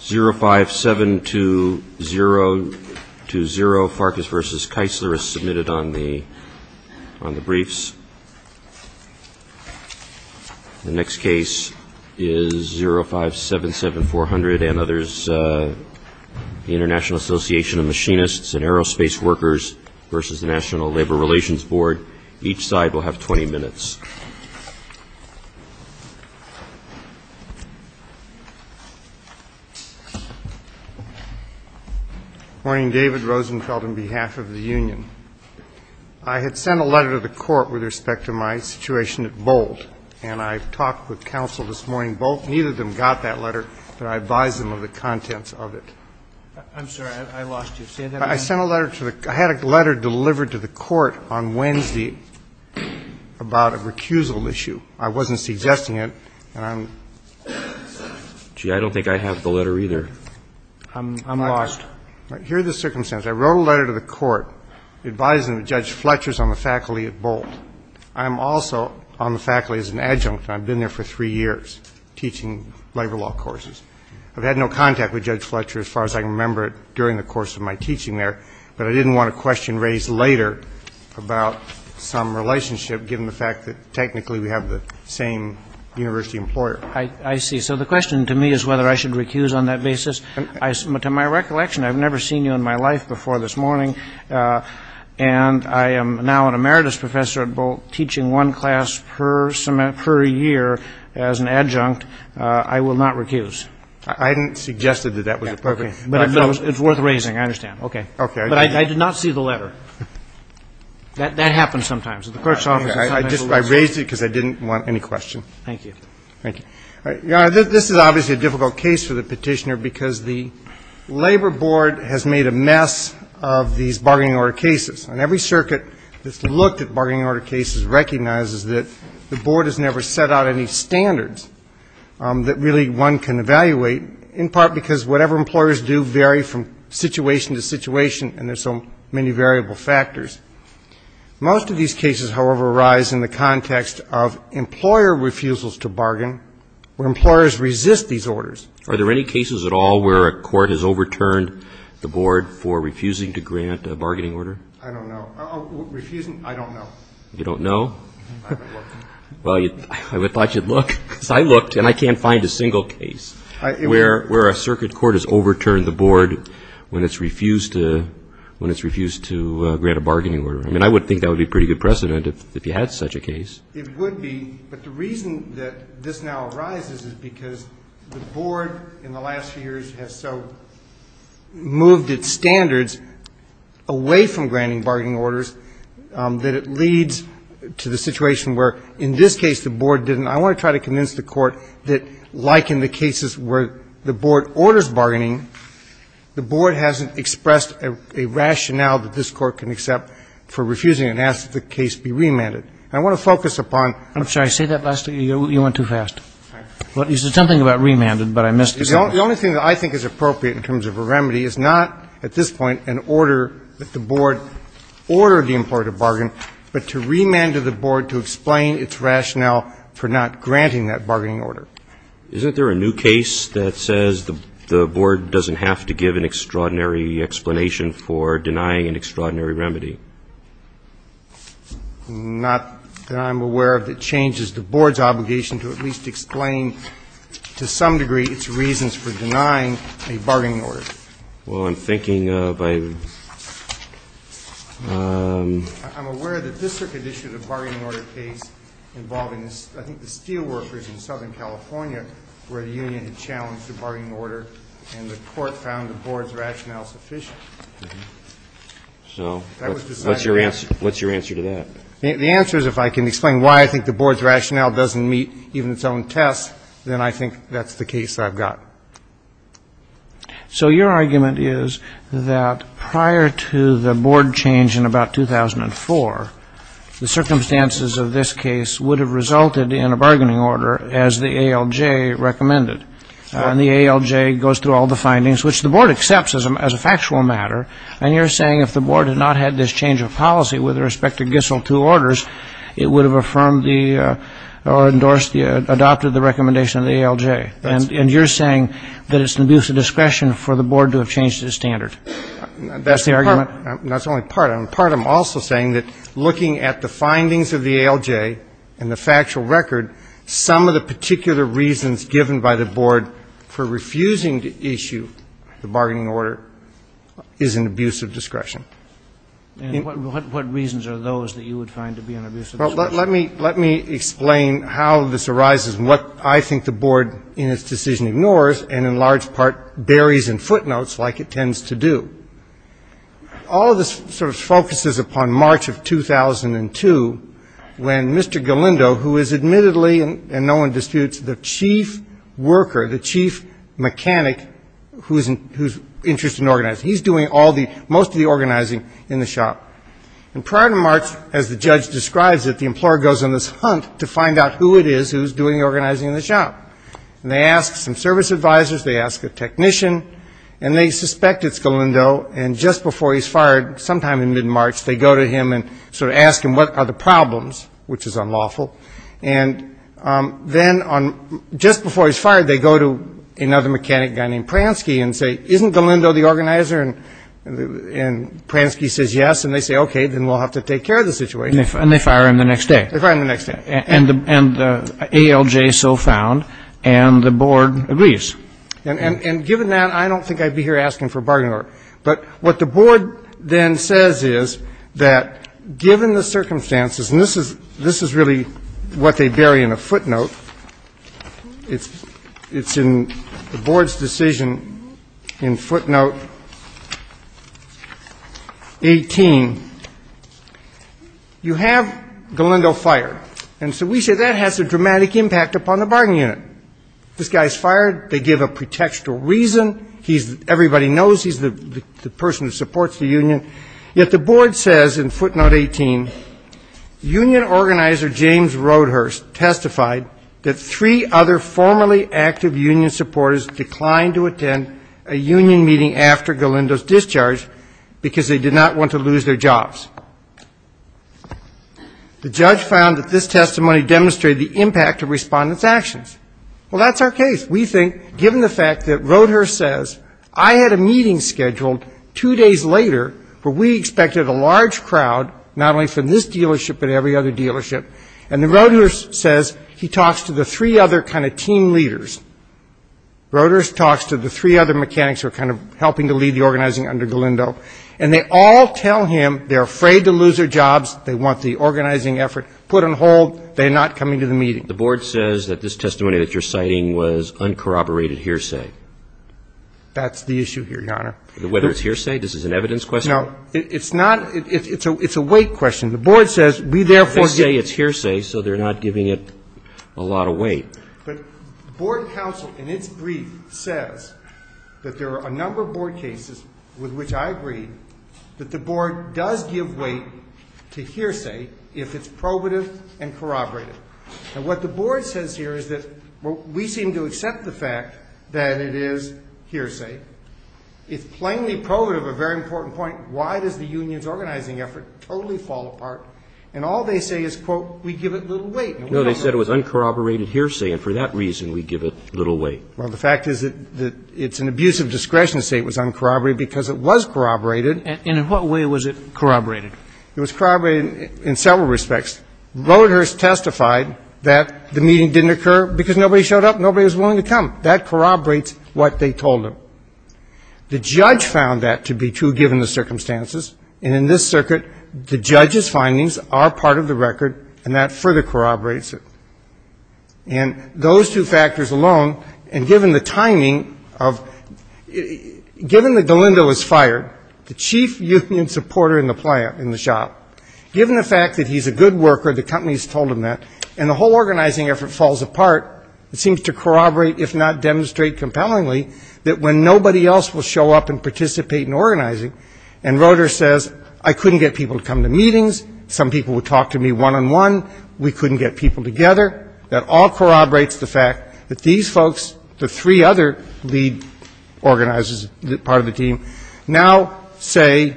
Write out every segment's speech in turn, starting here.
05720-0, Farkas v. Keisler is submitted on the briefs. The next case is 0577-400 and others, the International Association of Machinists and Aerospace Workers v. the National Labor Relations Board. Each side will have 20 minutes. Morning. David Rosenfeld on behalf of the union. I had sent a letter to the court with respect to my situation at Bolt, and I talked with counsel this morning. Bolt, neither of them got that letter, but I advised them of the contents of it. I'm sorry. I lost you. Say that again. I had a letter delivered to the court on Wednesday about a recusal issue. I wasn't suggesting it. I'm lost. Here are the circumstances. I wrote a letter to the court advising Judge Fletcher on the faculty at Bolt. I'm also on the faculty as an adjunct, and I've been there for three years teaching labor law courses. I've had no contact with Judge Fletcher as far as I can remember during the course of my teaching there, but I didn't want a question raised later about some relationship given the fact that technically we have the same university employer. I see. So the question to me is whether I should recuse on that basis. To my recollection, I've never seen you in my life before this morning, and I am now an emeritus professor at Bolt teaching one class per year as an It's worth raising. I understand. Okay. But I did not see the letter. That happens sometimes at the court's office. I raised it because I didn't want any question. Thank you. Thank you. Your Honor, this is obviously a difficult case for the petitioner because the Labor Board has made a mess of these bargaining order cases, and every circuit that's looked at bargaining order cases recognizes that the Board has never set out any standards that really one can evaluate, in part because whatever employers do vary from situation to situation, and there's so many variable factors. Most of these cases, however, arise in the context of employer refusals to bargain, where employers resist these orders. Are there any cases at all where a court has overturned the Board for refusing to grant a bargaining order? I don't know. Refusing? I don't know. You don't know? I haven't looked. Well, I thought you'd look, because I looked, and I can't find a single case where a circuit court has overturned the Board when it's refused to grant a bargaining order. I mean, I would think that would be a pretty good precedent if you had such a case. It would be, but the reason that this now arises is because the Board in the last few years has so moved its standards away from granting bargaining orders that it leads to the situation where in this case the Board didn't. I want to try to convince the Court that, like in the cases where the Board orders bargaining, the Board hasn't expressed a rationale that this Court can accept for refusing and asks that the case be remanded. I want to focus upon the only thing that I think is appropriate in terms of a remedy is not at this point an order that the Board ordered the employer to bargain, but to remand the Board to explain its rationale for not granting that bargaining order. Isn't there a new case that says the Board doesn't have to give an extraordinary explanation for denying an extraordinary remedy? Not that I'm aware of that changes the Board's obligation to at least explain to some degree its reasons for denying a bargaining order. Well, I'm thinking of a ---- I'm aware that this Circuit issued a bargaining order case involving, I think, the steel workers in Southern California where the union had challenged a bargaining order and the Court found the Board's rationale sufficient. So what's your answer to that? The answer is if I can explain why I think the Board's rationale doesn't meet even its own test, then I think that's the case I've got. So your argument is that prior to the Board change in about 2004, the circumstances of this case would have resulted in a bargaining order as the ALJ recommended. And the ALJ goes through all the findings, which the Board accepts as a factual matter. And you're saying if the Board had not had this change of policy with respect to Gissel II orders, it would have affirmed the or endorsed the adopted the recommendation of the ALJ. And you're saying that it's an abuse of discretion for the Board to have changed its standard. That's the argument. That's only part of it. Part of it, I'm also saying that looking at the findings of the ALJ and the factual record, some of the particular reasons given by the Board for refusing to issue the bargaining order is an abuse of discretion. And what reasons are those that you would find to be an abuse of discretion? Well, let me explain how this arises and what I think the Board in its decision ignores and in large part buries in footnotes like it tends to do. All of this sort of focuses upon March of 2002 when Mr. Galindo, who is admittedly, and no one disputes, the chief worker, the chief mechanic who's interested in organizing, he's doing most of the organizing in the shop. And prior to March, as the judge describes it, the employer goes on this hunt to find out who it is who's doing the organizing in the shop. And they ask some service advisors, they ask a technician, and they suspect it's Galindo. And just before he's fired, sometime in mid-March, they go to him and sort of ask him, what are the problems, which is unlawful. And then just before he's fired, they go to another mechanic guy named Pransky and say, isn't Galindo the organizer? And Pransky says yes, and they say, okay, then we'll have to take care of the situation. And they fire him the next day. They fire him the next day. And the ALJ is so found, and the Board agrees. And given that, I don't think I'd be here asking for a bargaining order. But what the Board then says is that given the circumstances, and this is really what they bury in a footnote, it's in the Board's decision in footnote 18, you have Galindo fired. And so we say that has a dramatic impact upon the bargaining unit. This guy's fired, they give a pretextual reason, everybody knows he's the person who supports the union. Yet the Board says in footnote 18, union organizer James Roadhurst testified that three other formerly active union supporters declined to attend a union meeting after Galindo's discharge because they did not want to lose their jobs. The judge found that this testimony demonstrated the impact of respondents' actions. Well, that's our case. We think given the fact that Roadhurst says I had a meeting scheduled two days later where we expected a large crowd, not only from this dealership but every other dealership, and then Roadhurst says he talks to the three other kind of team leaders, Roadhurst talks to the three other mechanics who are kind of helping to lead the organizing under Galindo, and they all tell him they're afraid to lose their jobs, they want the organizing effort put on hold, they're not coming to the meeting. The Board says that this testimony that you're citing was uncorroborated hearsay. That's the issue here, Your Honor. Whether it's hearsay, this is an evidence question. No, it's not, it's a weight question. The Board says we therefore say it's hearsay so they're not giving it a lot of weight. But Board counsel in its brief says that there are a number of Board cases with which I agree that the Board does give weight to hearsay if it's probative and corroborated. And what the Board says here is that we seem to accept the fact that it is hearsay. It's plainly probative, a very important point, why does the union's organizing effort totally fall apart? And all they say is, quote, we give it little weight. No, they said it was uncorroborated hearsay, and for that reason we give it little weight. Well, the fact is that it's an abuse of discretion to say it was uncorroborated because it was corroborated. And in what way was it corroborated? It was corroborated in several respects. Roediger testified that the meeting didn't occur because nobody showed up, nobody was willing to come. That corroborates what they told him. The judge found that to be true given the circumstances. And in this circuit, the judge's findings are part of the record, and that further corroborates it. And those two factors alone, and given the timing of, given that Galindo was fired, the chief union supporter in the shop, given the fact that he's a good worker, the company's told him that, and the whole organizing effort falls apart, it seems to corroborate, if not demonstrate compellingly, that when nobody else will show up and participate in organizing, and Roediger says, I couldn't get people to come to meetings, some people would talk to me one-on-one, we couldn't get people together, that all corroborates the fact that these folks, the three other lead organizers, part of the team, now say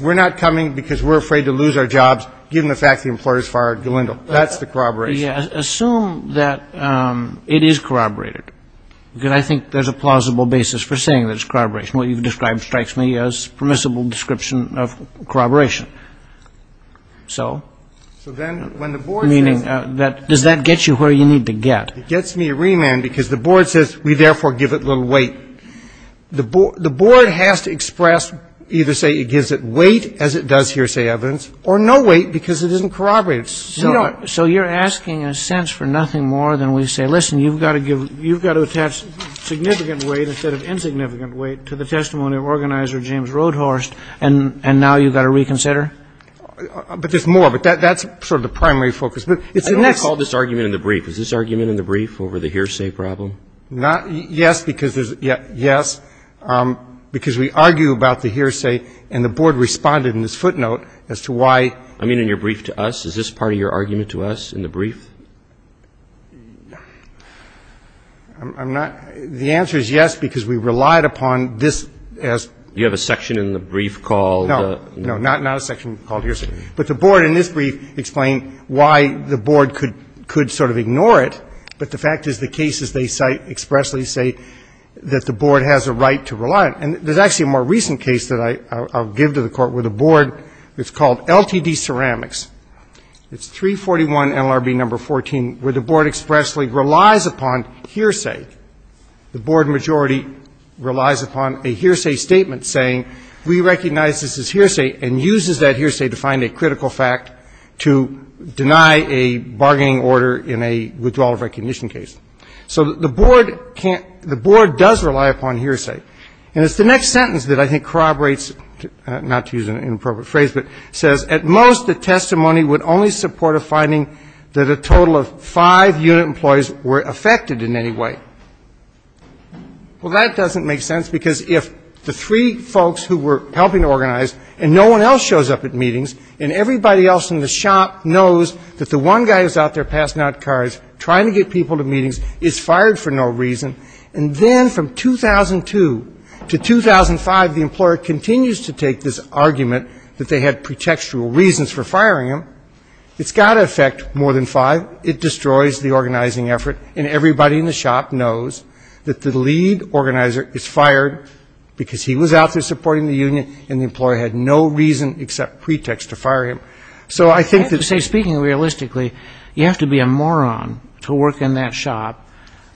we're not coming because we're afraid to lose our jobs given the fact the employer's fired Galindo. That's the corroboration. Yeah. Assume that it is corroborated, because I think there's a plausible basis for saying that it's corroboration. What you've described strikes me as permissible description of corroboration. So, meaning, does that get you where you need to get? It gets me a remand because the board says we therefore give it little weight. The board has to express, either say it gives it weight, as it does hearsay evidence, or no weight because it isn't corroborated. So you're asking, in a sense, for nothing more than we say, listen, you've got to attach significant weight instead of insignificant weight to the testimony of organizer James Roedhorst, and now you've got to reconsider? But there's more, but that's sort of the primary focus. I don't recall this argument in the brief. Is this argument in the brief over the hearsay problem? Yes, because we argue about the hearsay, and the board responded in this footnote as to why, I mean, in your brief to us, is this part of your argument to us in the brief? I'm not. The answer is yes, because we relied upon this as. You have a section in the brief called. No, not a section called hearsay. But the board in this brief explained why the board could sort of ignore it. But the fact is the cases they cite expressly say that the board has a right to rely on it. And there's actually a more recent case that I'll give to the Court where the board, it's called LTD Ceramics. It's 341 NLRB number 14, where the board expressly relies upon hearsay. The board majority relies upon a hearsay statement saying we recognize this as hearsay and uses that hearsay to find a critical fact to deny a bargaining order in a withdrawal of recognition case. So the board can't, the board does rely upon hearsay. The next sentence that I think corroborates, not to use an inappropriate phrase, but says at most the testimony would only support a finding that a total of five unit employees were affected in any way. Well, that doesn't make sense because if the three folks who were helping to organize and no one else shows up at meetings and everybody else in the shop knows that the one guy who's out there passing out cards, trying to get people to meetings, is fired for no reason. And then from 2002 to 2005, the employer continues to take this argument that they had pretextual reasons for firing him. It's got to affect more than five. It destroys the organizing effort and everybody in the shop knows that the lead organizer is fired because he was out there supporting the union and the employer had no reason except pretext to fire him. Speaking realistically, you have to be a moron to work in that shop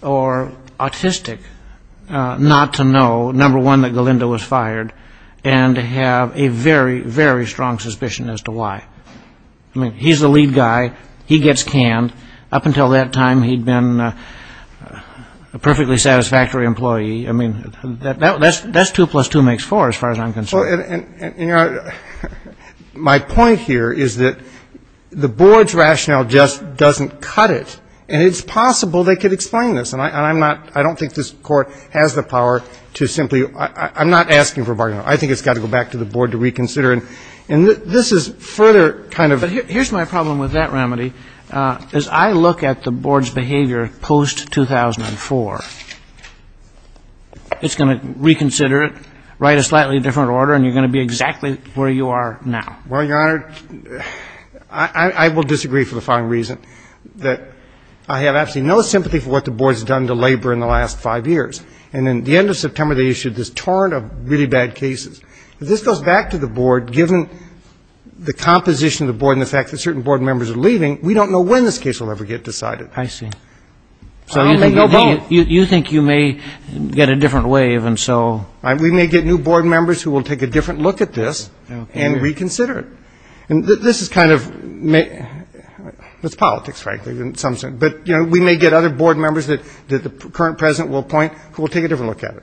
or autistic not to know, number one, that Galindo was fired and have a very, very strong suspicion as to why. I mean, he's the lead guy. He gets canned. Up until that time, he'd been a perfectly satisfactory employee. I mean, that's two plus two makes four as far as I'm concerned. Well, and my point here is that the board's rationale just doesn't cut it. And it's possible they could explain this. And I'm not, I don't think this Court has the power to simply, I'm not asking for bargaining. I think it's got to go back to the board to reconsider. And this is further kind of. Here's my problem with that remedy. As I look at the board's behavior post-2004, it's going to reconsider it, write a slightly different order, and you're going to be exactly where you are now. Well, Your Honor, I will disagree for the following reason, that I have absolutely no sympathy for what the board's done to labor in the last five years. And at the end of September, they issued this torrent of really bad cases. If this goes back to the board, given the composition of the board and the fact that certain board members are leaving, we don't know when this case will ever get decided. I see. So you think you may get a different wave. We may get new board members who will take a different look at this and reconsider it. And this is kind of, it's politics, frankly, in some sense. But, you know, we may get other board members that the current President will appoint who will take a different look at it.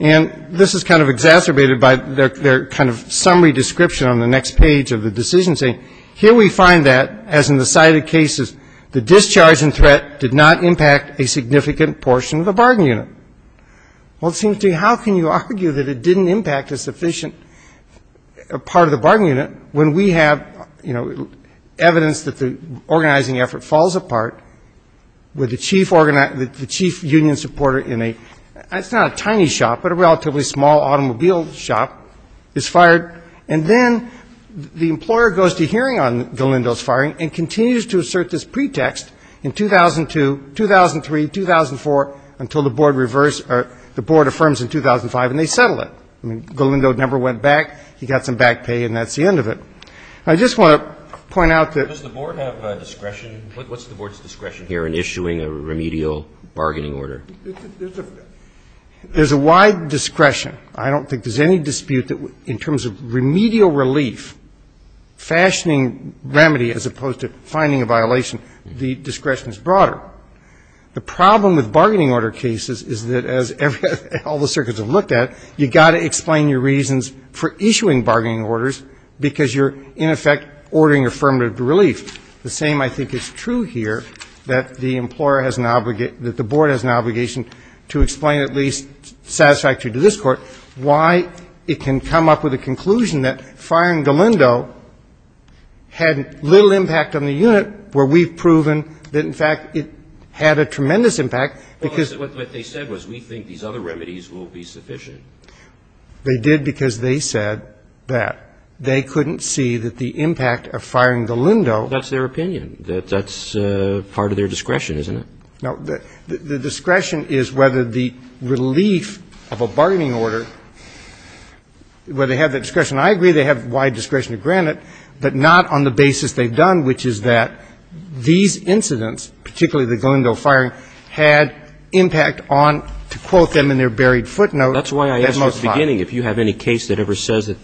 And this is kind of exacerbated by their kind of summary description on the next page of the decision saying, here we find that, as in the cited cases, the discharge and threat did not impact a significant portion of the bargaining unit. Well, it seems to me, how can you argue that it didn't impact a sufficient part of the bargaining unit when we have, you know, evidence that the organizing effort falls apart with the chief union supporter in a, it's not a tiny shop, but a relatively small automobile shop is fired. And then the employer goes to hearing on Galindo's firing and continues to assert this pretext in 2002, 2003, 2004 until the board reversed or the board affirms in 2005 and they settle it. Galindo never went back. He got some back pay and that's the end of it. I just want to point out that the board has discretion. What's the board's discretion here in issuing a remedial bargaining order? There's a wide discretion. I don't think there's any dispute that in terms of remedial relief, fashioning remedy as opposed to finding a violation, the discretion is broader. The problem with bargaining order cases is that as all the circuits have looked at, you've got to explain your reasons for issuing bargaining orders because you're in effect ordering affirmative relief. The same, I think, is true here that the employer has an obligation, that the board has an obligation to explain at least satisfactory to this Court why it can come up with a conclusion that firing Galindo had little impact on the unit where we've proven that in fact it had a tremendous impact. Because what they said was we think these other remedies will be sufficient. They did because they said that. They couldn't see that the impact of firing Galindo. That's their opinion. That's part of their discretion, isn't it? No. The discretion is whether the relief of a bargaining order, where they have the discretion I agree they have wide discretion to grant it, but not on the basis they've done, which is that these incidents, particularly the Galindo firing, had impact on, to quote them in their buried footnote, that most likely. That's why I asked at the beginning if you have any case that ever says that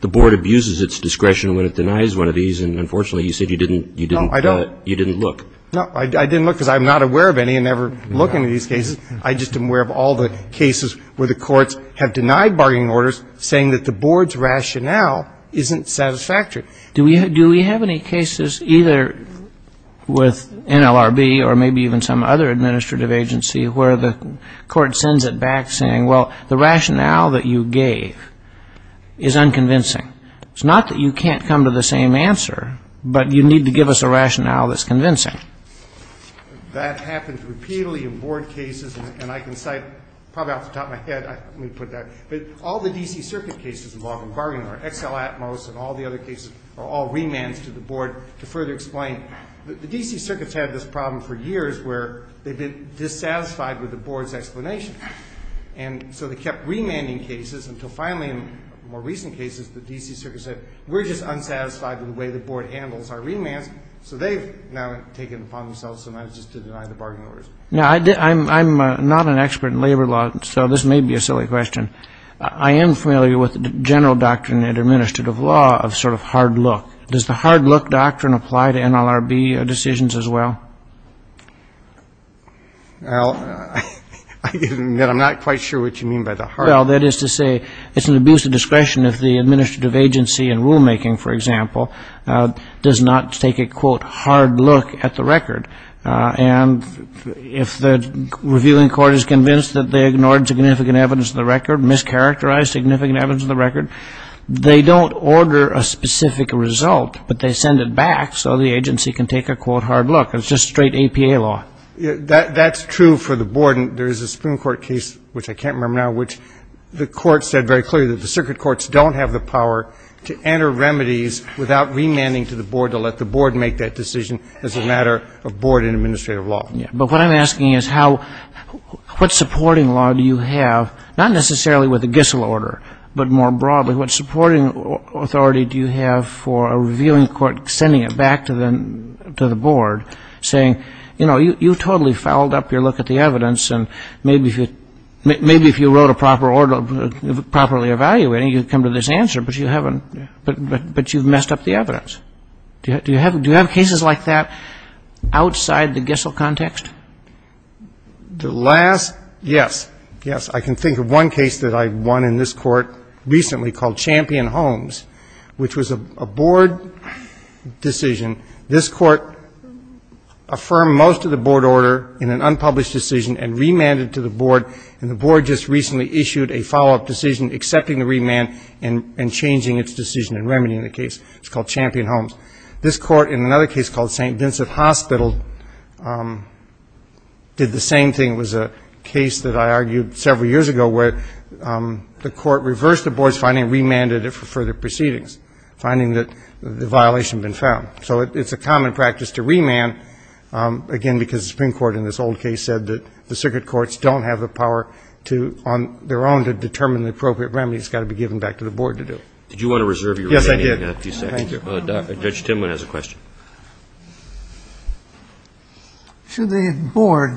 the board abuses its discretion when it denies one of these. And unfortunately, you said you didn't look. No, I didn't look because I'm not aware of any and never look into these cases. I just am aware of all the cases where the courts have denied bargaining orders, saying that the board's rationale isn't satisfactory. Do we have any cases either with NLRB or maybe even some other administrative agency where the court sends it back saying, well, the rationale that you gave is unconvincing? It's not that you can't come to the same answer, but you need to give us a rationale that's convincing. That happens repeatedly in board cases, and I can cite probably off the top of my head, let me put that, but all the D.C. Circuit cases involving bargaining or XL Atmos and all the other cases are all remands to the board to further explain. The D.C. Circuit's had this problem for years where they've been dissatisfied with the board's explanation. And so they kept remanding cases until finally, in more recent cases, the D.C. Circuit said we're just unsatisfied with the way the board handles our remands, so they've now taken it upon themselves sometimes just to deny the bargaining orders. Now, I'm not an expert in labor law, so this may be a silly question. I am familiar with the general doctrine in administrative law of sort of hard look. Does the hard look doctrine apply to NLRB decisions as well? Well, I'm not quite sure what you mean by the hard look. Well, that is to say it's an abuse of discretion if the administrative agency in rulemaking, for example, does not take a, quote, hard look at the record. And if the reviewing court is convinced that they ignored significant evidence of the record, mischaracterized significant evidence of the record, they don't order a specific result, but they send it back so the agency can take a, quote, hard look. It's just straight APA law. That's true for the board. There is a Supreme Court case, which I can't remember now, which the court said very clearly that the circuit courts don't have the power to enter remedies without remanding to the board to let the board make that decision as a matter of board and administrative law. Yeah. But what I'm asking is how ñ what supporting law do you have, not necessarily with the Gissel order, but more broadly, what supporting authority do you have for a reviewing court sending it back to the board, saying, you know, you totally fouled up your look at the evidence, and maybe if you wrote a proper order properly evaluating, you'd come to this answer, but you haven't ñ but you've messed up the evidence. Do you have cases like that outside the Gissel context? The last ñ yes, yes. I can think of one case that I won in this court recently called Champion-Holmes, which was a board decision. This court affirmed most of the board order in an unpublished decision and remanded to the board, and the board just recently issued a follow-up decision accepting the remand and changing its decision in remedying the case. It's called Champion-Holmes. This court, in another case called St. Vincent Hospital, did the same thing. It was a case that I argued several years ago where the court reversed the board's finding, remanded it for further proceedings, finding that the violation had been found. So it's a common practice to remand, again, because the Supreme Court in this old case said that the circuit courts don't have the power to, on their own, to determine the appropriate remedy. It's got to be given back to the board to do it. Did you want to reserve your remanding? Yes, I did. Thank you. Judge Timwin has a question. Should the board,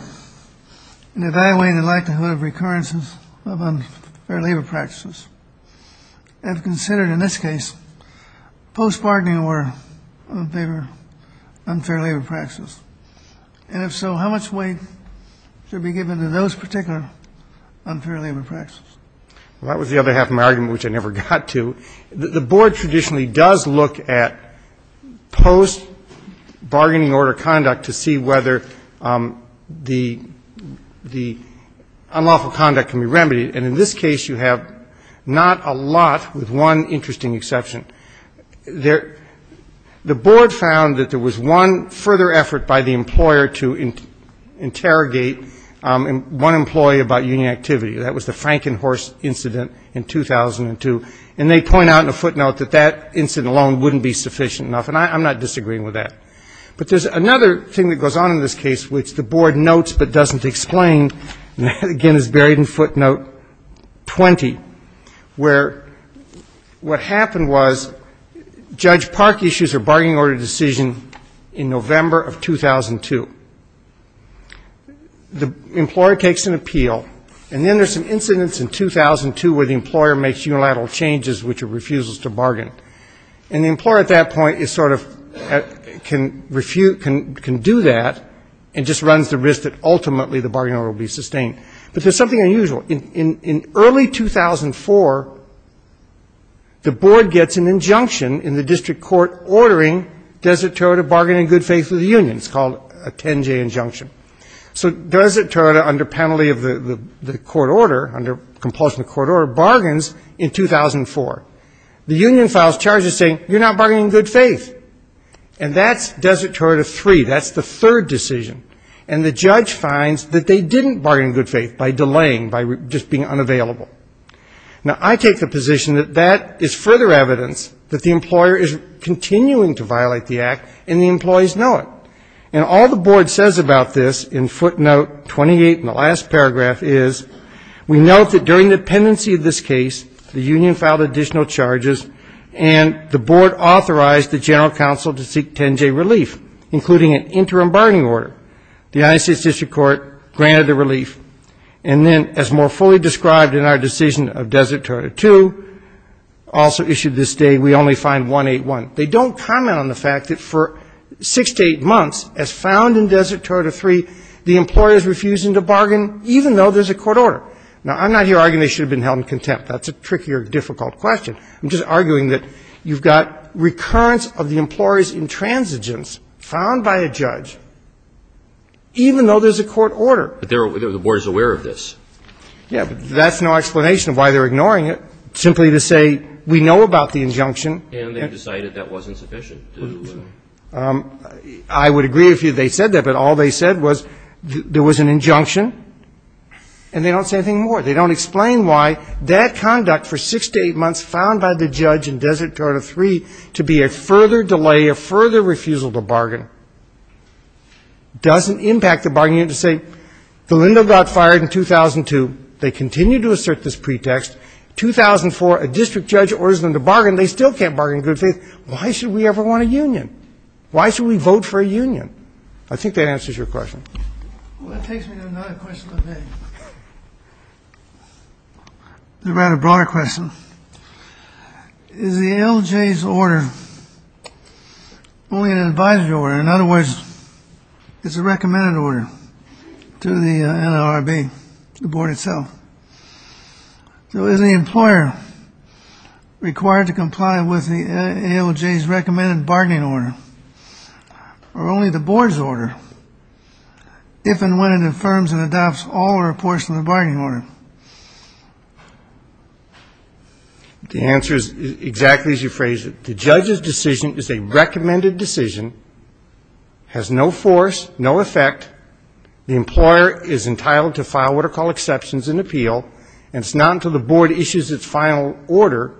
in evaluating the likelihood of recurrences of unfair labor practices, have considered, in this case, post-bargaining order on unfair labor practices? And if so, how much weight should be given to those particular unfair labor practices? Well, that was the other half of my argument, which I never got to. The board traditionally does look at post-bargaining order conduct to see whether the unlawful conduct can be remedied. And in this case, you have not a lot, with one interesting exception. The board found that there was one further effort by the employer to interrogate one employee about union activity. That was the Frankenhorst incident in 2002. And they point out in a footnote that that incident alone wouldn't be sufficient enough. And I'm not disagreeing with that. But there's another thing that goes on in this case, which the board notes but doesn't explain, and again is buried in footnote 20, where what happened was Judge Park issues a bargaining order decision in November of 2002. The employer takes an appeal, and then there's some incidents in 2002 where the employer makes unilateral changes, which are refusals to bargain. And the employer at that point is sort of can do that and just runs the risk that ultimately the bargaining order will be sustained. But there's something unusual. In early 2004, the board gets an injunction in the district court ordering Desert Toronto bargain in good faith with the union. It's called a 10-J injunction. So Desert Toronto, under penalty of the court order, under compulsion of the court order, bargains in 2004. The union files charges saying, you're not bargaining in good faith. And that's Desert Toronto 3. That's the third decision. And the judge finds that they didn't bargain in good faith by delaying, by just being unavailable. Now, I take the position that that is further evidence that the employer is continuing to violate the act, and the employees know it. And all the board says about this in footnote 28 in the last paragraph is, we note that during the pendency of this case, the union filed additional charges, and the board authorized the general counsel to seek 10-J relief, including an interim bargaining order. The United States District Court granted the relief. And then, as more fully described in our decision of Desert Toronto 2, also issued this day, we only find 181. They don't comment on the fact that for six to eight months, as found in Desert Toronto 3, the employer is refusing to bargain, even though there's a court order. Now, I'm not here arguing they should have been held in contempt. That's a trickier, difficult question. I'm just arguing that you've got recurrence of the employer's intransigence found by a judge, even though there's a court order. But the board is aware of this. Yeah, but that's no explanation of why they're ignoring it. Simply to say, we know about the injunction. And they decided that wasn't sufficient. I would agree if they said that, but all they said was there was an injunction, and they don't say anything more. They don't explain why that conduct for six to eight months, found by the judge in Desert Toronto 3, to be a further delay, a further refusal to bargain, doesn't impact the bargaining. You have to say, Galindo got fired in 2002. They continue to assert this pretext. 2004, a district judge orders them to bargain. They still can't bargain in good faith. Why should we ever want a union? Why should we vote for a union? I think that answers your question. Well, that takes me to another question of the day. A rather broader question. Is the ALJ's order only an advisory order? In other words, it's a recommended order to the NLRB, the board itself. So is the employer required to comply with the ALJ's recommended bargaining order, or only the board's order, if and when it affirms and adopts all the reports from the bargaining order? The answer is exactly as you phrased it. The judge's decision is a recommended decision, has no force, no effect. The employer is entitled to file what are called exceptions and appeal, and it's not until the board issues its final order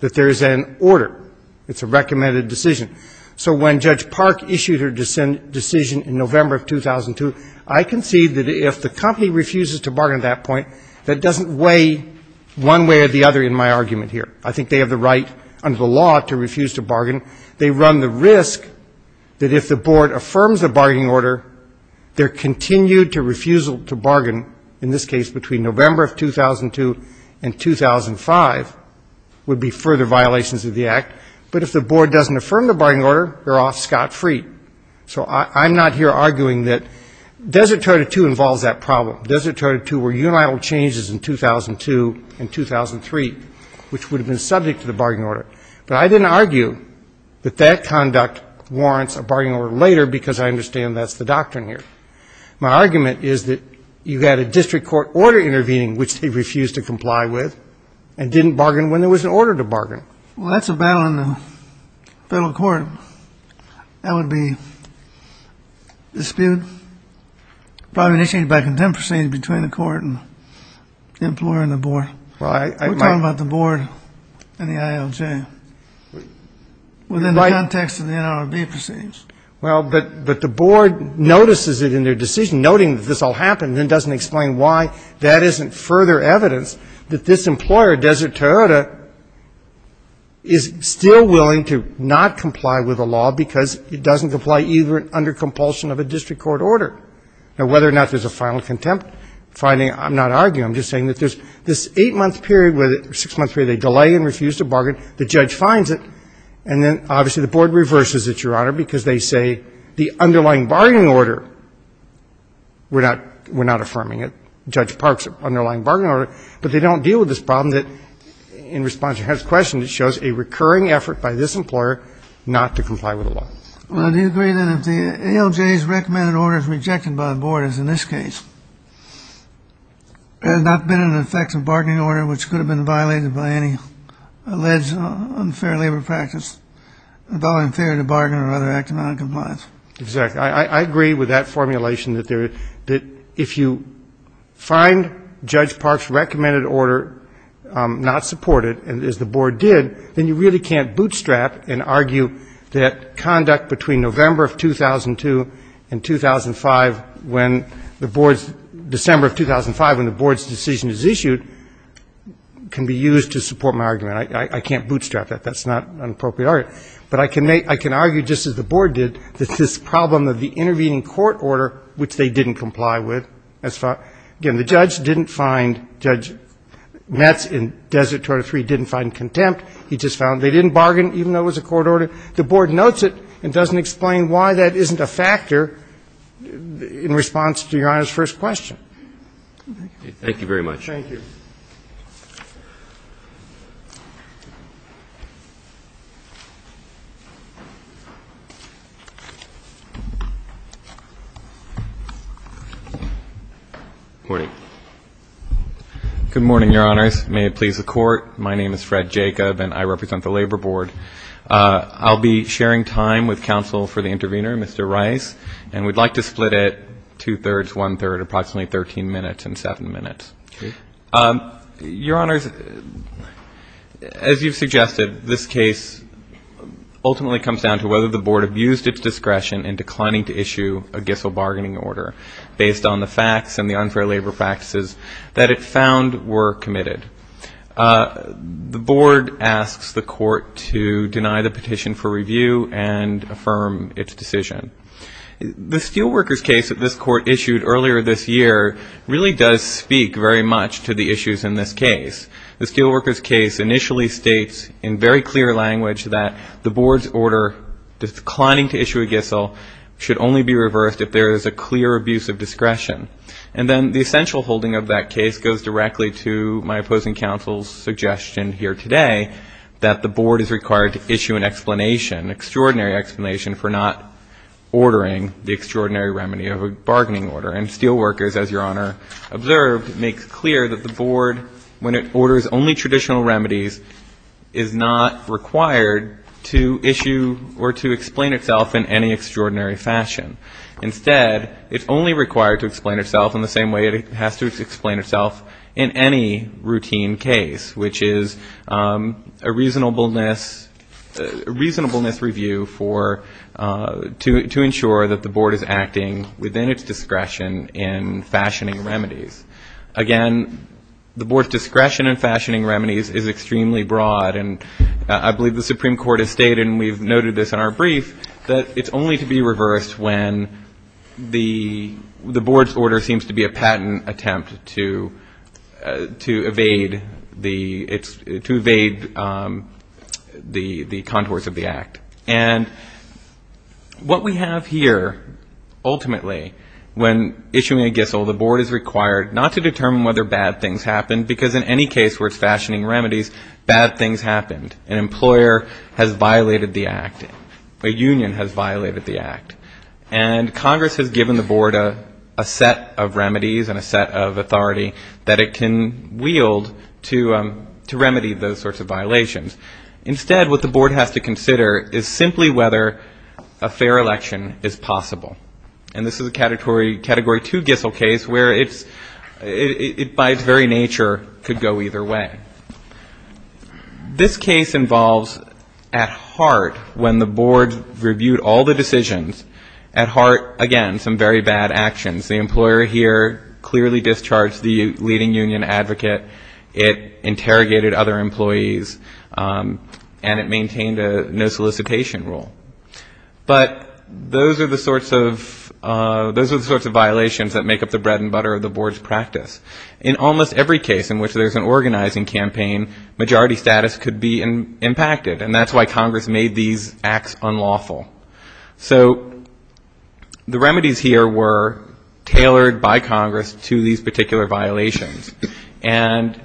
that there is an order. It's a recommended decision. So when Judge Park issued her decision in November of 2002, I concede that if the company refuses to bargain at that point, that doesn't weigh one way or the other in my argument here. I think they have the right under the law to refuse to bargain. They run the risk that if the board affirms a bargaining order, their continued refusal to bargain, in this case between November of 2002 and 2005, would be further violations of the Act. But if the board doesn't affirm the bargaining order, they're off scot-free. So I'm not here arguing that Desert Territory 2 involves that problem. Desert Territory 2 were unilateral changes in 2002 and 2003, which would have been subject to the bargaining order. But I didn't argue that that conduct warrants a bargaining order later because I understand that's the doctrine here. My argument is that you had a district court order intervening, which they refused to comply with and didn't bargain when there was an order to bargain. Well, that's a battle in the federal court. That would be disputed, probably initiated by contempt proceedings between the court and the employer and the board. We're talking about the board and the ILJ within the context of the NLRB proceedings. Well, but the board notices it in their decision, noting that this all happened, then doesn't explain why that isn't further evidence that this employer, Desert Toyota, is still willing to not comply with the law because it doesn't comply either under compulsion of a district court order. Now, whether or not there's a final contempt finding, I'm not arguing. I'm just saying that there's this eight-month period, six-month period, they delay and refuse to bargain. The judge finds it. And then, obviously, the board reverses it, Your Honor, because they say the underlying bargaining order, we're not affirming it, Judge Park's underlying bargaining order, but they don't deal with this problem that, in response to Your Honor's question, it shows a recurring effort by this employer not to comply with the law. Well, do you agree that if the ILJ's recommended order is rejected by the board, as in this case, there has not been an effective bargaining order which could have been violated by any alleged unfair labor practice, about unfair to bargain or other act of noncompliance? Exactly. I agree with that formulation that if you find Judge Park's recommended order not supported, as the board did, then you really can't bootstrap and argue that conduct between November of 2002 and 2005 when the board's decision is issued can be used to support my argument. I can't bootstrap that. That's not an appropriate argument. But I can argue, just as the board did, that this problem of the intervening court order, which they didn't comply with, as far as the judge didn't find Judge Metz in Desert 203 didn't find contempt. He just found they didn't bargain, even though it was a court order. The board notes it and doesn't explain why that isn't a factor in response to Your Honor's first question. Thank you very much. Thank you. Thank you. Good morning. Good morning, Your Honors. May it please the Court, my name is Fred Jacob, and I represent the Labor Board. I'll be sharing time with counsel for the intervener, Mr. Rice, and we'd like to split it two-thirds, one-third, approximately 13 minutes and seven minutes. Okay. Your Honors, as you've suggested, this case ultimately comes down to whether the board abused its discretion in declining to issue a Gissel bargaining order based on the facts and the unfair labor practices that it found were committed. The board asks the court to deny the petition for review and affirm its decision. The Steelworkers case that this court issued earlier this year really does speak very much to the issues in this case. The Steelworkers case initially states in very clear language that the board's order, declining to issue a Gissel, should only be reversed if there is a clear abuse of discretion. And then the essential holding of that case goes directly to my opposing counsel's suggestion here today that the board is required to issue an explanation, extraordinary explanation for not ordering the extraordinary remedy of a bargaining order. And Steelworkers, as Your Honor observed, makes clear that the board, when it orders only traditional remedies, is not required to issue or to explain itself in any extraordinary fashion. Instead, it's only required to explain itself in the same way it has to explain itself in any routine case, which is a reasonableness review to ensure that the board is acting within its discretion in fashioning remedies. Again, the board's discretion in fashioning remedies is extremely broad. And I believe the Supreme Court has stated, and we've noted this in our brief, that it's only to be reversed when the board's order seems to be a patent attempt to evade the contours of the act. And what we have here, ultimately, when issuing a Gissel, the board is required not to determine whether bad things happened, because in any case where it's fashioning remedies, bad things happened. An employer has violated the act. A union has violated the act. And Congress has given the board a set of remedies and a set of authority that it can wield to remedy those sorts of violations. Instead, what the board has to consider is simply whether a fair election is possible. And this is a category two Gissel case where it's, by its very nature, could go either way. This case involves, at heart, when the board reviewed all the decisions, at heart, again, some very bad actions. The employer here clearly discharged the leading union advocate. It interrogated other employees. And it maintained a no solicitation rule. But those are the sorts of violations that make up the bread and butter of the board's practice. In almost every case in which there's an organizing campaign, majority status could be impacted. And that's why Congress made these acts unlawful. So the remedies here were tailored by Congress to these particular violations. And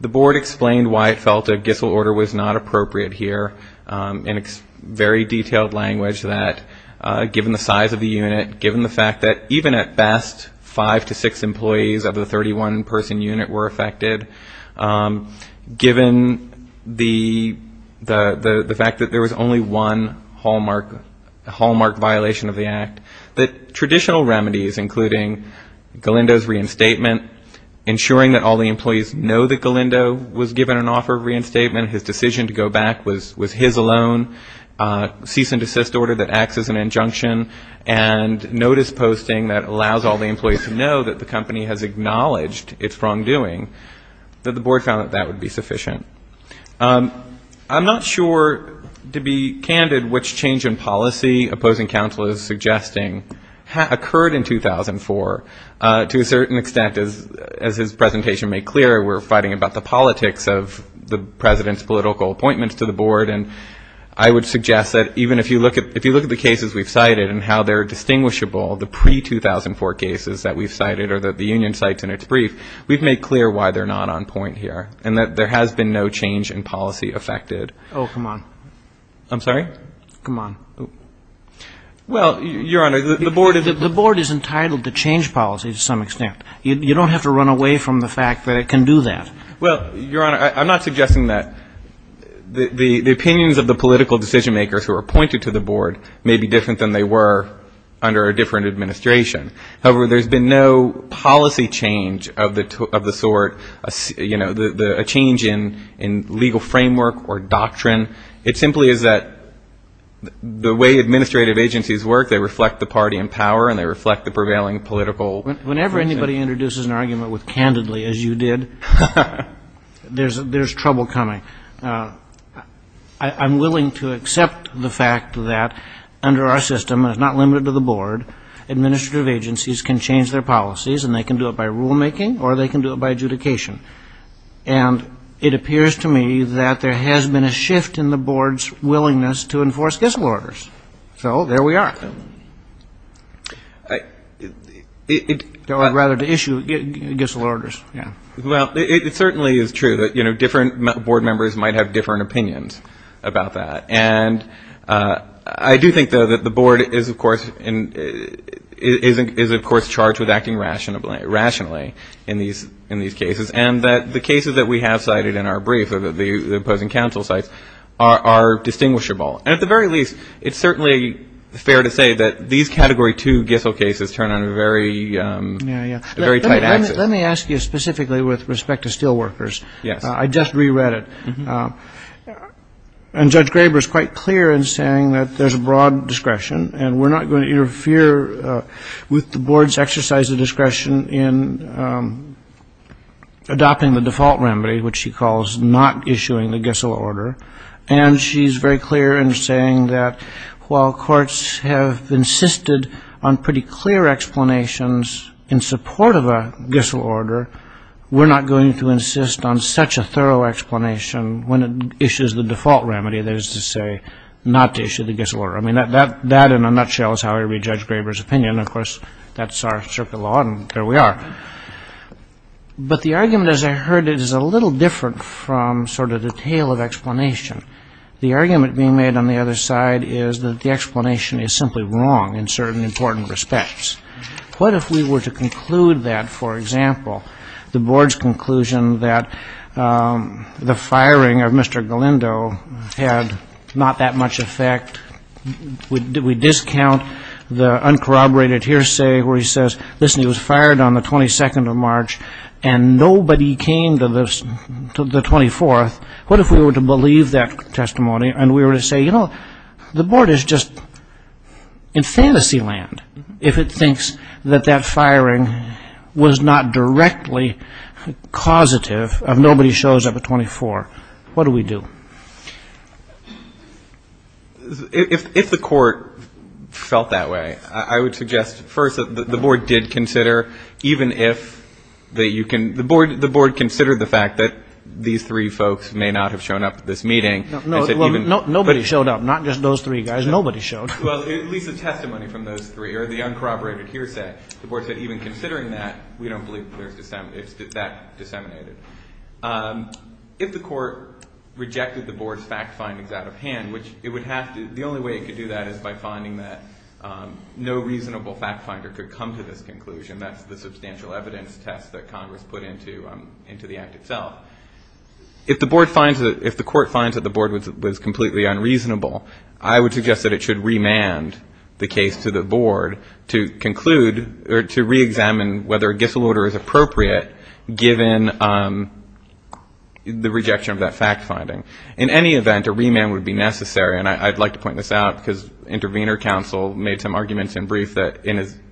the board explained why it felt a Gissel order was not appropriate here. And it's very detailed language that, given the size of the unit, given the fact that even at best five to six employees of the 31-person unit were affected, given the fact that there was only one hallmark violation of the act, that traditional remedies, including Galindo's reinstatement, ensuring that all the employees know that Galindo was given an offer of reinstatement, his decision to go back was his alone, cease and desist order that acts as an injunction, and notice posting that allows all the employees to know that the company has acknowledged its wrongdoing, that the board found that that would be sufficient. I'm not sure, to be candid, which change in policy opposing counsel is suggesting occurred in 2004. To a certain extent, as his presentation made clear, we're fighting about the politics of the President's political appointments to the board. And I would suggest that even if you look at the cases we've cited and how they're distinguishable, the pre-2004 cases that we've cited or that the union cites in its brief, we've made clear why they're not on point here and that there has been no change in policy affected. Oh, come on. I'm sorry? Come on. Well, Your Honor, the board is entitled to change policy to some extent. You don't have to run away from the fact that it can do that. Well, Your Honor, I'm not suggesting that the opinions of the political decision-makers who are appointed to the board may be different than they were under a different administration. However, there's been no policy change of the sort, you know, a change in legal framework or doctrine. It simply is that the way administrative agencies work, they reflect the party in power and they reflect the prevailing political process. Whenever anybody introduces an argument with candidly, as you did, there's trouble coming. I'm willing to accept the fact that under our system, and it's not limited to the board, administrative agencies can change their policies and they can do it by rulemaking or they can do it by adjudication. And it appears to me that there has been a shift in the board's willingness to enforce Gissel orders. So there we are. Or rather to issue Gissel orders, yeah. Well, it certainly is true that, you know, different board members might have different opinions about that. And I do think, though, that the board is, of course, charged with acting rationally in these cases. And that the cases that we have cited in our brief or the opposing counsel's sites are distinguishable. And at the very least, it's certainly fair to say that these Category 2 Gissel cases turn on a very tight axis. Let me ask you specifically with respect to steelworkers. Yes. I just reread it. And Judge Graber is quite clear in saying that there's a broad discretion and we're not going to interfere with the board's exercise of discretion in adopting the default remedy, which she calls not issuing the Gissel order. And she's very clear in saying that while courts have insisted on pretty clear explanations in support of a Gissel order, we're not going to insist on such a thorough explanation when it issues the default remedy, that is to say not to issue the Gissel order. I mean, that in a nutshell is how I read Judge Graber's opinion. Of course, that's our circuit law, and there we are. But the argument, as I heard it, is a little different from sort of the tale of explanation. The argument being made on the other side is that the explanation is simply wrong in certain important respects. What if we were to conclude that, for example, the board's conclusion that the firing of Mr. Galindo had not that much effect, we discount the uncorroborated hearsay where he says, listen, he was fired on the 22nd of March and nobody came to the 24th. What if we were to believe that testimony and we were to say, you know, the board is just in fantasy land if it thinks that that firing was not directly causative of nobody shows up at 24. What do we do? If the court felt that way, I would suggest first that the board did consider, even if that you can, the board considered the fact that these three folks may not have shown up at this meeting. Nobody showed up, not just those three guys. Nobody showed up. Well, at least the testimony from those three or the uncorroborated hearsay, the board said even considering that, we don't believe that that disseminated. If the court rejected the board's fact findings out of hand, which it would have to, the only way it could do that is by finding that no reasonable fact finder could come to this conclusion. That's the substantial evidence test that Congress put into the act itself. If the board finds that, if the court finds that the board was completely unreasonable, I would suggest that it should remand the case to the board to conclude or to reexamine whether a Gissel order is appropriate, given the rejection of that fact finding. In any event, a remand would be necessary, and I'd like to point this out, because intervener counsel made some arguments in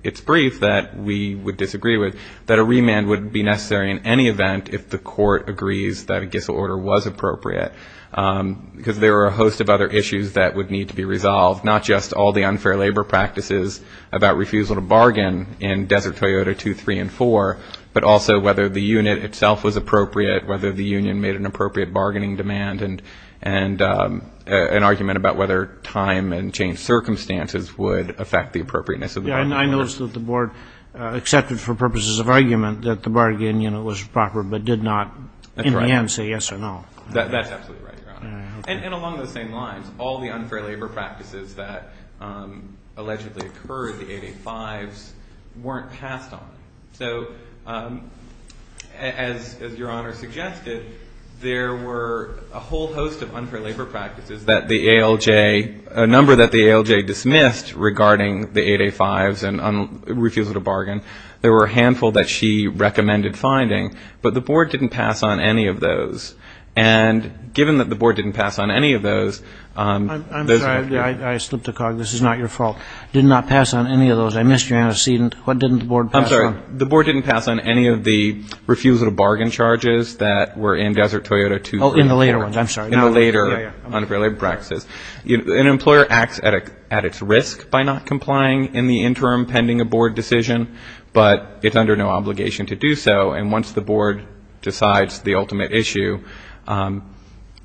its brief that we would disagree with, that a remand would be necessary in any event if the court agrees that a Gissel order was appropriate, because there are a host of other issues that would need to be resolved, not just all the unfair labor practices about refusal to bargain in Desert Toyota 2, 3, and 4, but also whether the unit itself was appropriate, whether the union made an appropriate bargaining demand, and an argument about whether time and changed circumstances would affect the appropriateness of the bargain order. I noticed that the board accepted for purposes of argument that the bargain unit was proper, but did not in the end say yes or no. That's absolutely right, Your Honor. And along those same lines, all the unfair labor practices that allegedly occurred, the 8A-5s, weren't passed on. So as Your Honor suggested, there were a whole host of unfair labor practices that the ALJ, a number that the ALJ dismissed regarding the 8A-5s and refusal to bargain. There were a handful that she recommended finding, but the board didn't pass on any of those. And given that the board didn't pass on any of those... I'm sorry, I slipped a cog. This is not your fault. Did not pass on any of those. I missed your antecedent. What didn't the board pass on? I'm sorry. The board didn't pass on any of the refusal to bargain charges that were in Desert Toyota 2, 3, and 4. Oh, in the later ones. I'm sorry. In the later unfair labor practices. An employer acts at its risk by not complying in the interim pending a board decision, but it's under no obligation to do so. And once the board decides the ultimate issue,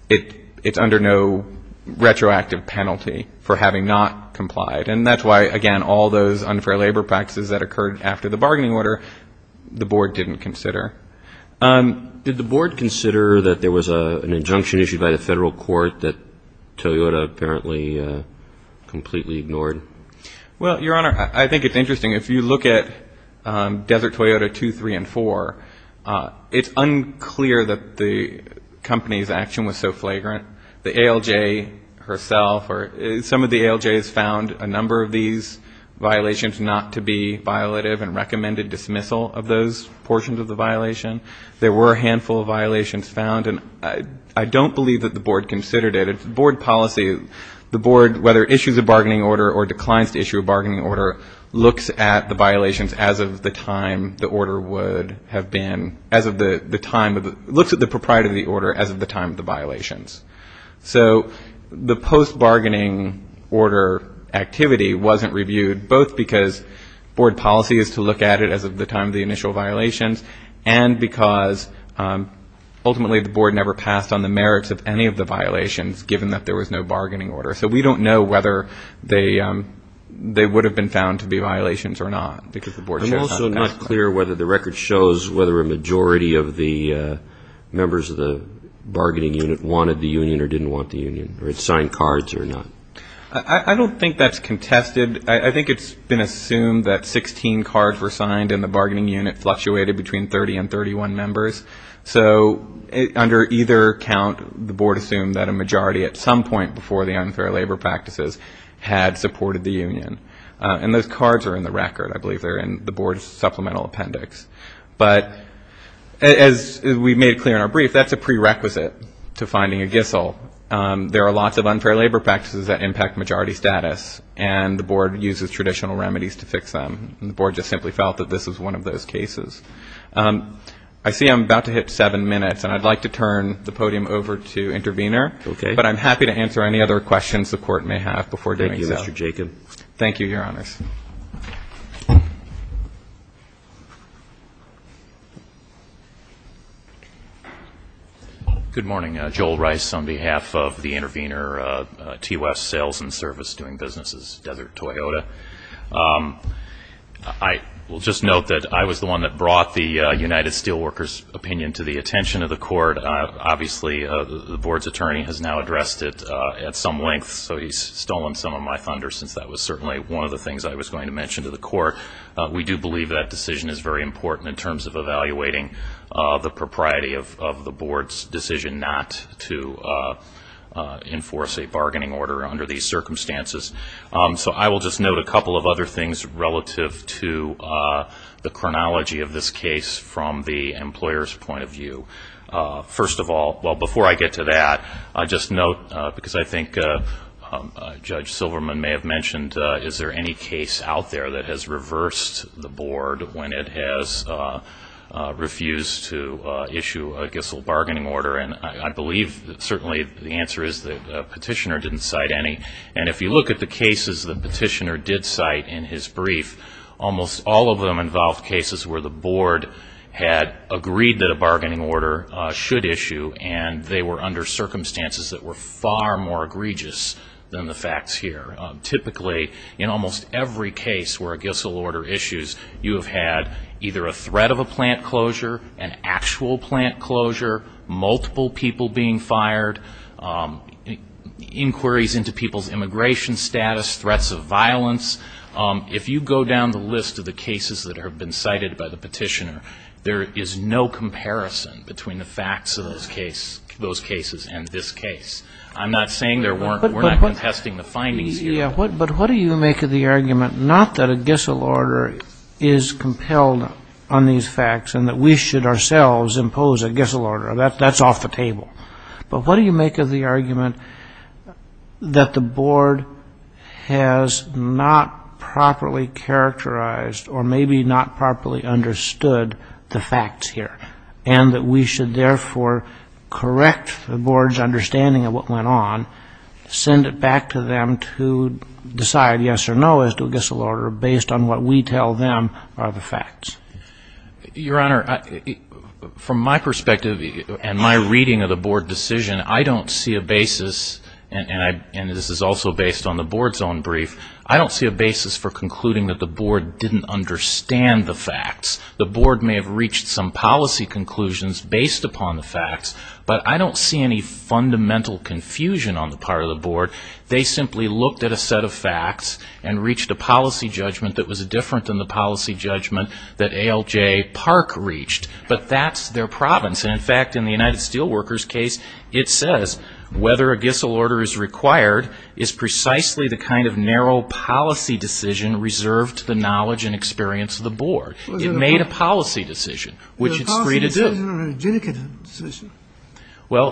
it's under no retroactive penalty for having not complied. And that's why, again, all those unfair labor practices that occurred after the bargaining order, the board didn't consider. Did the board consider that there was an injunction issued by the federal court that Toyota apparently completely ignored? Well, Your Honor, I think it's interesting. If you look at Desert Toyota 2, 3, and 4, it's unclear that the company's action was so flagrant. The ALJ herself or some of the ALJs found a number of these violations not to be violative and recommended dismissal of those portions of the violation. There were a handful of violations found, and I don't believe that the board considered it. If the board policy, the board, whether it issues a bargaining order or declines to issue a bargaining order, looks at the violations as of the time the order would have been, as of the time, looks at the propriety of the order as of the time of the violations. So the post-bargaining order activity wasn't reviewed, both because board policy is to look at it as of the time of the initial violations, and because ultimately the board never passed on the merits of any of the violations, given that there was no bargaining order. So we don't know whether they would have been found to be violations or not, because the board chose not to. It's also not clear whether the record shows whether a majority of the members of the bargaining unit wanted the union or didn't want the union, or had signed cards or not. I don't think that's contested. I think it's been assumed that 16 cards were signed and the bargaining unit fluctuated between 30 and 31 members. So under either count, the board assumed that a majority at some point before the unfair labor practices had supported the union. And those cards are in the record. I believe they're in the board's supplemental appendix. But as we made clear in our brief, that's a prerequisite to finding a GISL. There are lots of unfair labor practices that impact majority status, and the board uses traditional remedies to fix them. And the board just simply felt that this was one of those cases. I see I'm about to hit seven minutes, and I'd like to turn the podium over to Intervenor. But I'm happy to answer any other questions the Court may have before doing so. Thank you, Mr. Jacob. Thank you, Your Honors. Good morning. I will just note that I was the one that brought the United Steelworkers' opinion to the attention of the Court. Obviously, the board's attorney has now addressed it at some length, so he's stolen some of my thunder since that was certainly one of the things I was going to mention to the Court. We do believe that decision is very important in terms of evaluating the propriety of the board's decision not to enforce a bargaining order under these circumstances. So I will just note a couple of other things relative to the chronology of this case from the employer's point of view. First of all, well, before I get to that, I'll just note, because I think Judge Silverman may have mentioned, is there any case out there that has reversed the board when it has refused to issue a Gissell bargaining order? And I believe certainly the answer is the petitioner didn't cite any. And if you look at the cases the petitioner did cite in his brief, almost all of them involved cases where the board had agreed that a bargaining order should issue, and they were under circumstances that were far more egregious than the facts here. Typically, in almost every case where a Gissell order issues, you have had either a threat of a plant closure, an actual plant closure, multiple people being fired, inquiries into people's immigration status, threats of violence. If you go down the list of the cases that have been cited by the petitioner, there is no comparison between the facts of those cases and this case. I'm not saying there weren't. We're not contesting the findings here. But what do you make of the argument not that a Gissell order is compelled on these facts and that we should ourselves impose a Gissell order? That's off the table. But what do you make of the argument that the board has not properly characterized or maybe not properly understood the facts here, and that we should therefore correct the board's understanding of what went on, send it back to them to decide yes or no as to a Gissell order based on what we tell them are the facts? Your Honor, from my perspective and my reading of the board decision, I don't see a basis, and this is also based on the board's own brief, I don't see a basis for concluding that the board didn't understand the facts. The board may have reached some policy conclusions based upon the facts, but I don't see any fundamental confusion on the part of the board. They simply looked at a set of facts and reached a policy judgment that was different than the policy judgment that ALJ Park reached. But that's their province, and in fact, in the United Steelworkers case, it says whether a Gissell order is required is precisely the kind of narrow policy decision reserved to the knowledge and experience of the board. It made a policy decision, which it's free to do. Is it a legitimate decision? Well,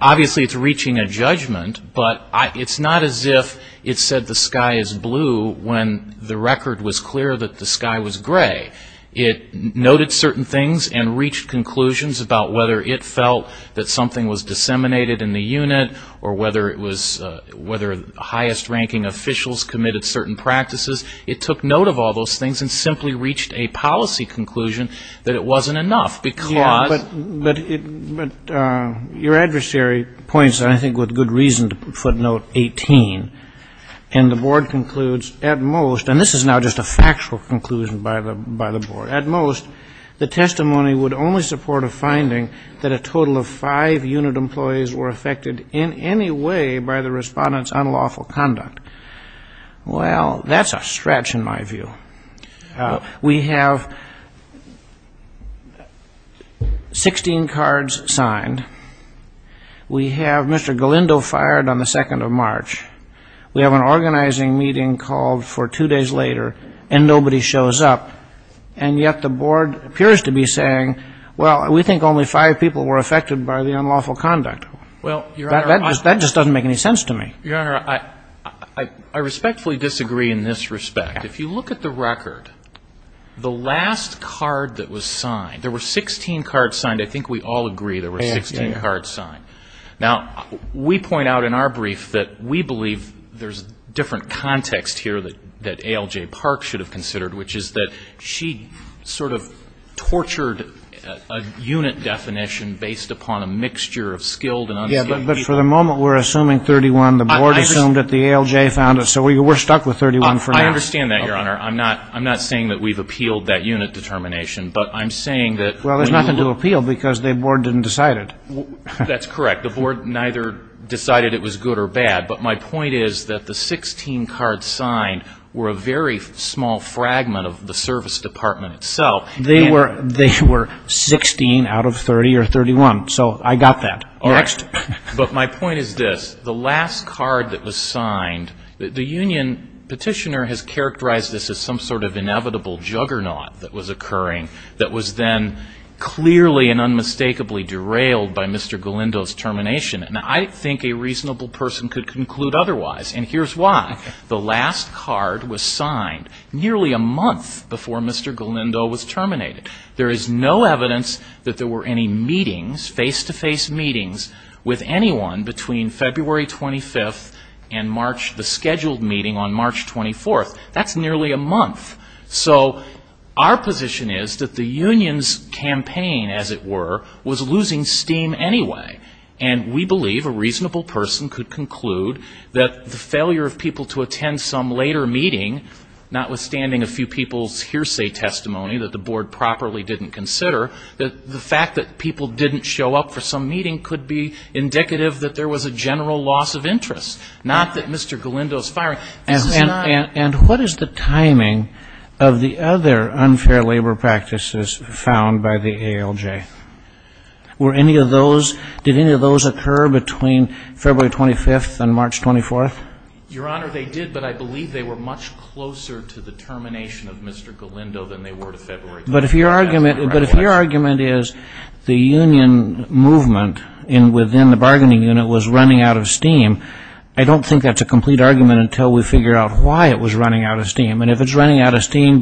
obviously it's reaching a judgment, but it's not as if it said the sky is blue when the record was clear that the sky was gray. It noted certain things and reached conclusions about whether it felt that something was disseminated in the unit or whether highest-ranking officials committed certain practices. It took note of all those things and simply reached a policy conclusion that it wasn't enough, because But your adversary points, I think, with good reason to footnote 18, and the board concludes at most, and this is now just a factual conclusion by the board, at most the testimony would only support a finding that a total of five unit employees were affected in any way by the Respondent's unlawful conduct. Well, that's a stretch in my view. We have 16 cards signed. We have Mr. Galindo fired on the 2nd of March. We have an organizing meeting called for two days later, and nobody shows up. And yet the board appears to be saying, well, we think only five people were affected by the unlawful conduct. That just doesn't make any sense to me. Your Honor, I respectfully disagree in this respect. If you look at the record, the last card that was signed, there were 16 cards signed. I think we all agree there were 16 cards signed. Now, we point out in our brief that we believe there's different context here that A.L.J. found it. So we're stuck with 31 for now. I understand that, Your Honor. I'm not saying that we've appealed that unit determination, but I'm saying that when you look at the record, there's nothing to appeal because the board didn't decide it. They were 16 out of 30 or 31, so I got that. Next. But my point is this, the last card that was signed, the union petitioner has characterized this as some sort of inevitable juggernaut that was occurring that was then clearly and unmistakably derailed by Mr. Galindo's termination. And I think a reasonable person could conclude otherwise. And here's why. The last card was signed nearly a month before Mr. Galindo was terminated. There is no evidence that there were any meetings, face-to-face meetings with anyone between February 25th and March, the scheduled meeting on March 24th. That's nearly a month. So our position is that the union's campaign, as it were, was losing steam anyway. And we believe a reasonable person could conclude that the failure of people to attend some later meeting, notwithstanding a few people's hearsay testimony that the board properly didn't consider, that the fact that people didn't show up for some meeting could be indicative that there was a general loss of interest, not that Mr. Galindo's firing. And what is the timing of the other unfair labor practices found by the ALJ? Did any of those occur between February 25th and March 24th? Your Honor, they did, but I believe they were much closer to the termination of Mr. Galindo than they were to February 25th. But if your argument is the union movement within the bargaining unit was running out of steam, I don't think that's a good argument to make until we figure out why it was running out of steam. And if it's running out of steam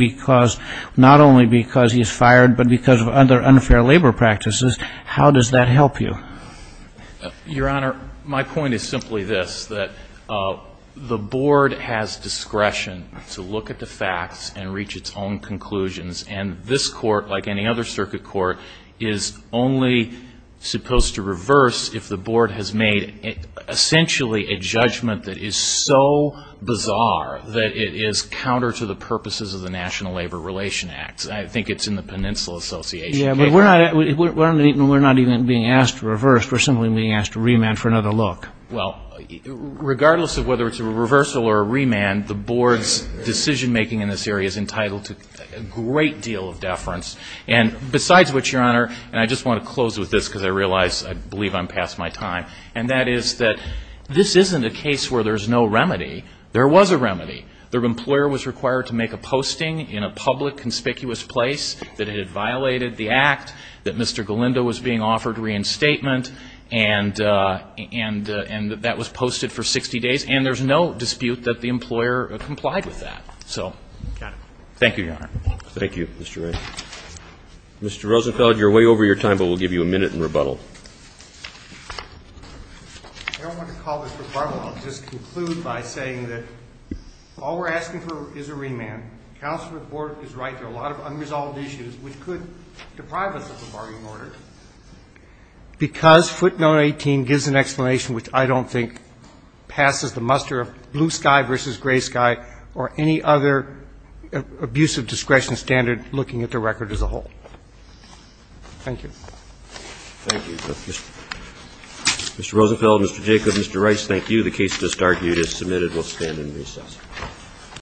not only because he's fired, but because of other unfair labor practices, how does that help you? Your Honor, my point is simply this, that the board has discretion to look at the facts and reach its own conclusions. And this Court, like any other circuit court, is only supposed to reverse if the board has made essentially a judgment that is so bizarre that it is counter to the purposes of the National Labor Relations Act. I think it's in the Peninsula Association case. Yeah, but we're not even being asked to reverse. We're simply being asked to remand for another look. Well, regardless of whether it's a reversal or a remand, the board's decision-making in this area is entitled to a great deal of deference. And besides which, Your Honor, and I just want to close with this because I realize I believe I'm past my time, and that is that this isn't a case where there's no remedy. There was a remedy. The employer was required to make a posting in a public, conspicuous place that it had violated the Act, that Mr. Galindo was being offered reinstatement, and that was posted for 60 days. And there's no dispute that the employer complied with that. Got it. Thank you, Your Honor. Thank you, Mr. Wright. Mr. Rosenfeld, you're way over your time, but we'll give you a minute in rebuttal. I don't want to call this rebuttal. I'll just conclude by saying that all we're asking for is a remand. Counsel's report is right. There are a lot of unresolved issues which could deprive us of the bargaining order. Because footnote 18 gives an explanation which I don't think passes the muster of blue sky versus gray sky or any other abusive discretion standard looking at the record as a whole. Thank you. Thank you. Mr. Rosenfeld, Mr. Jacob, Mr. Rice, thank you. The case just argued is submitted. We'll stand in recess.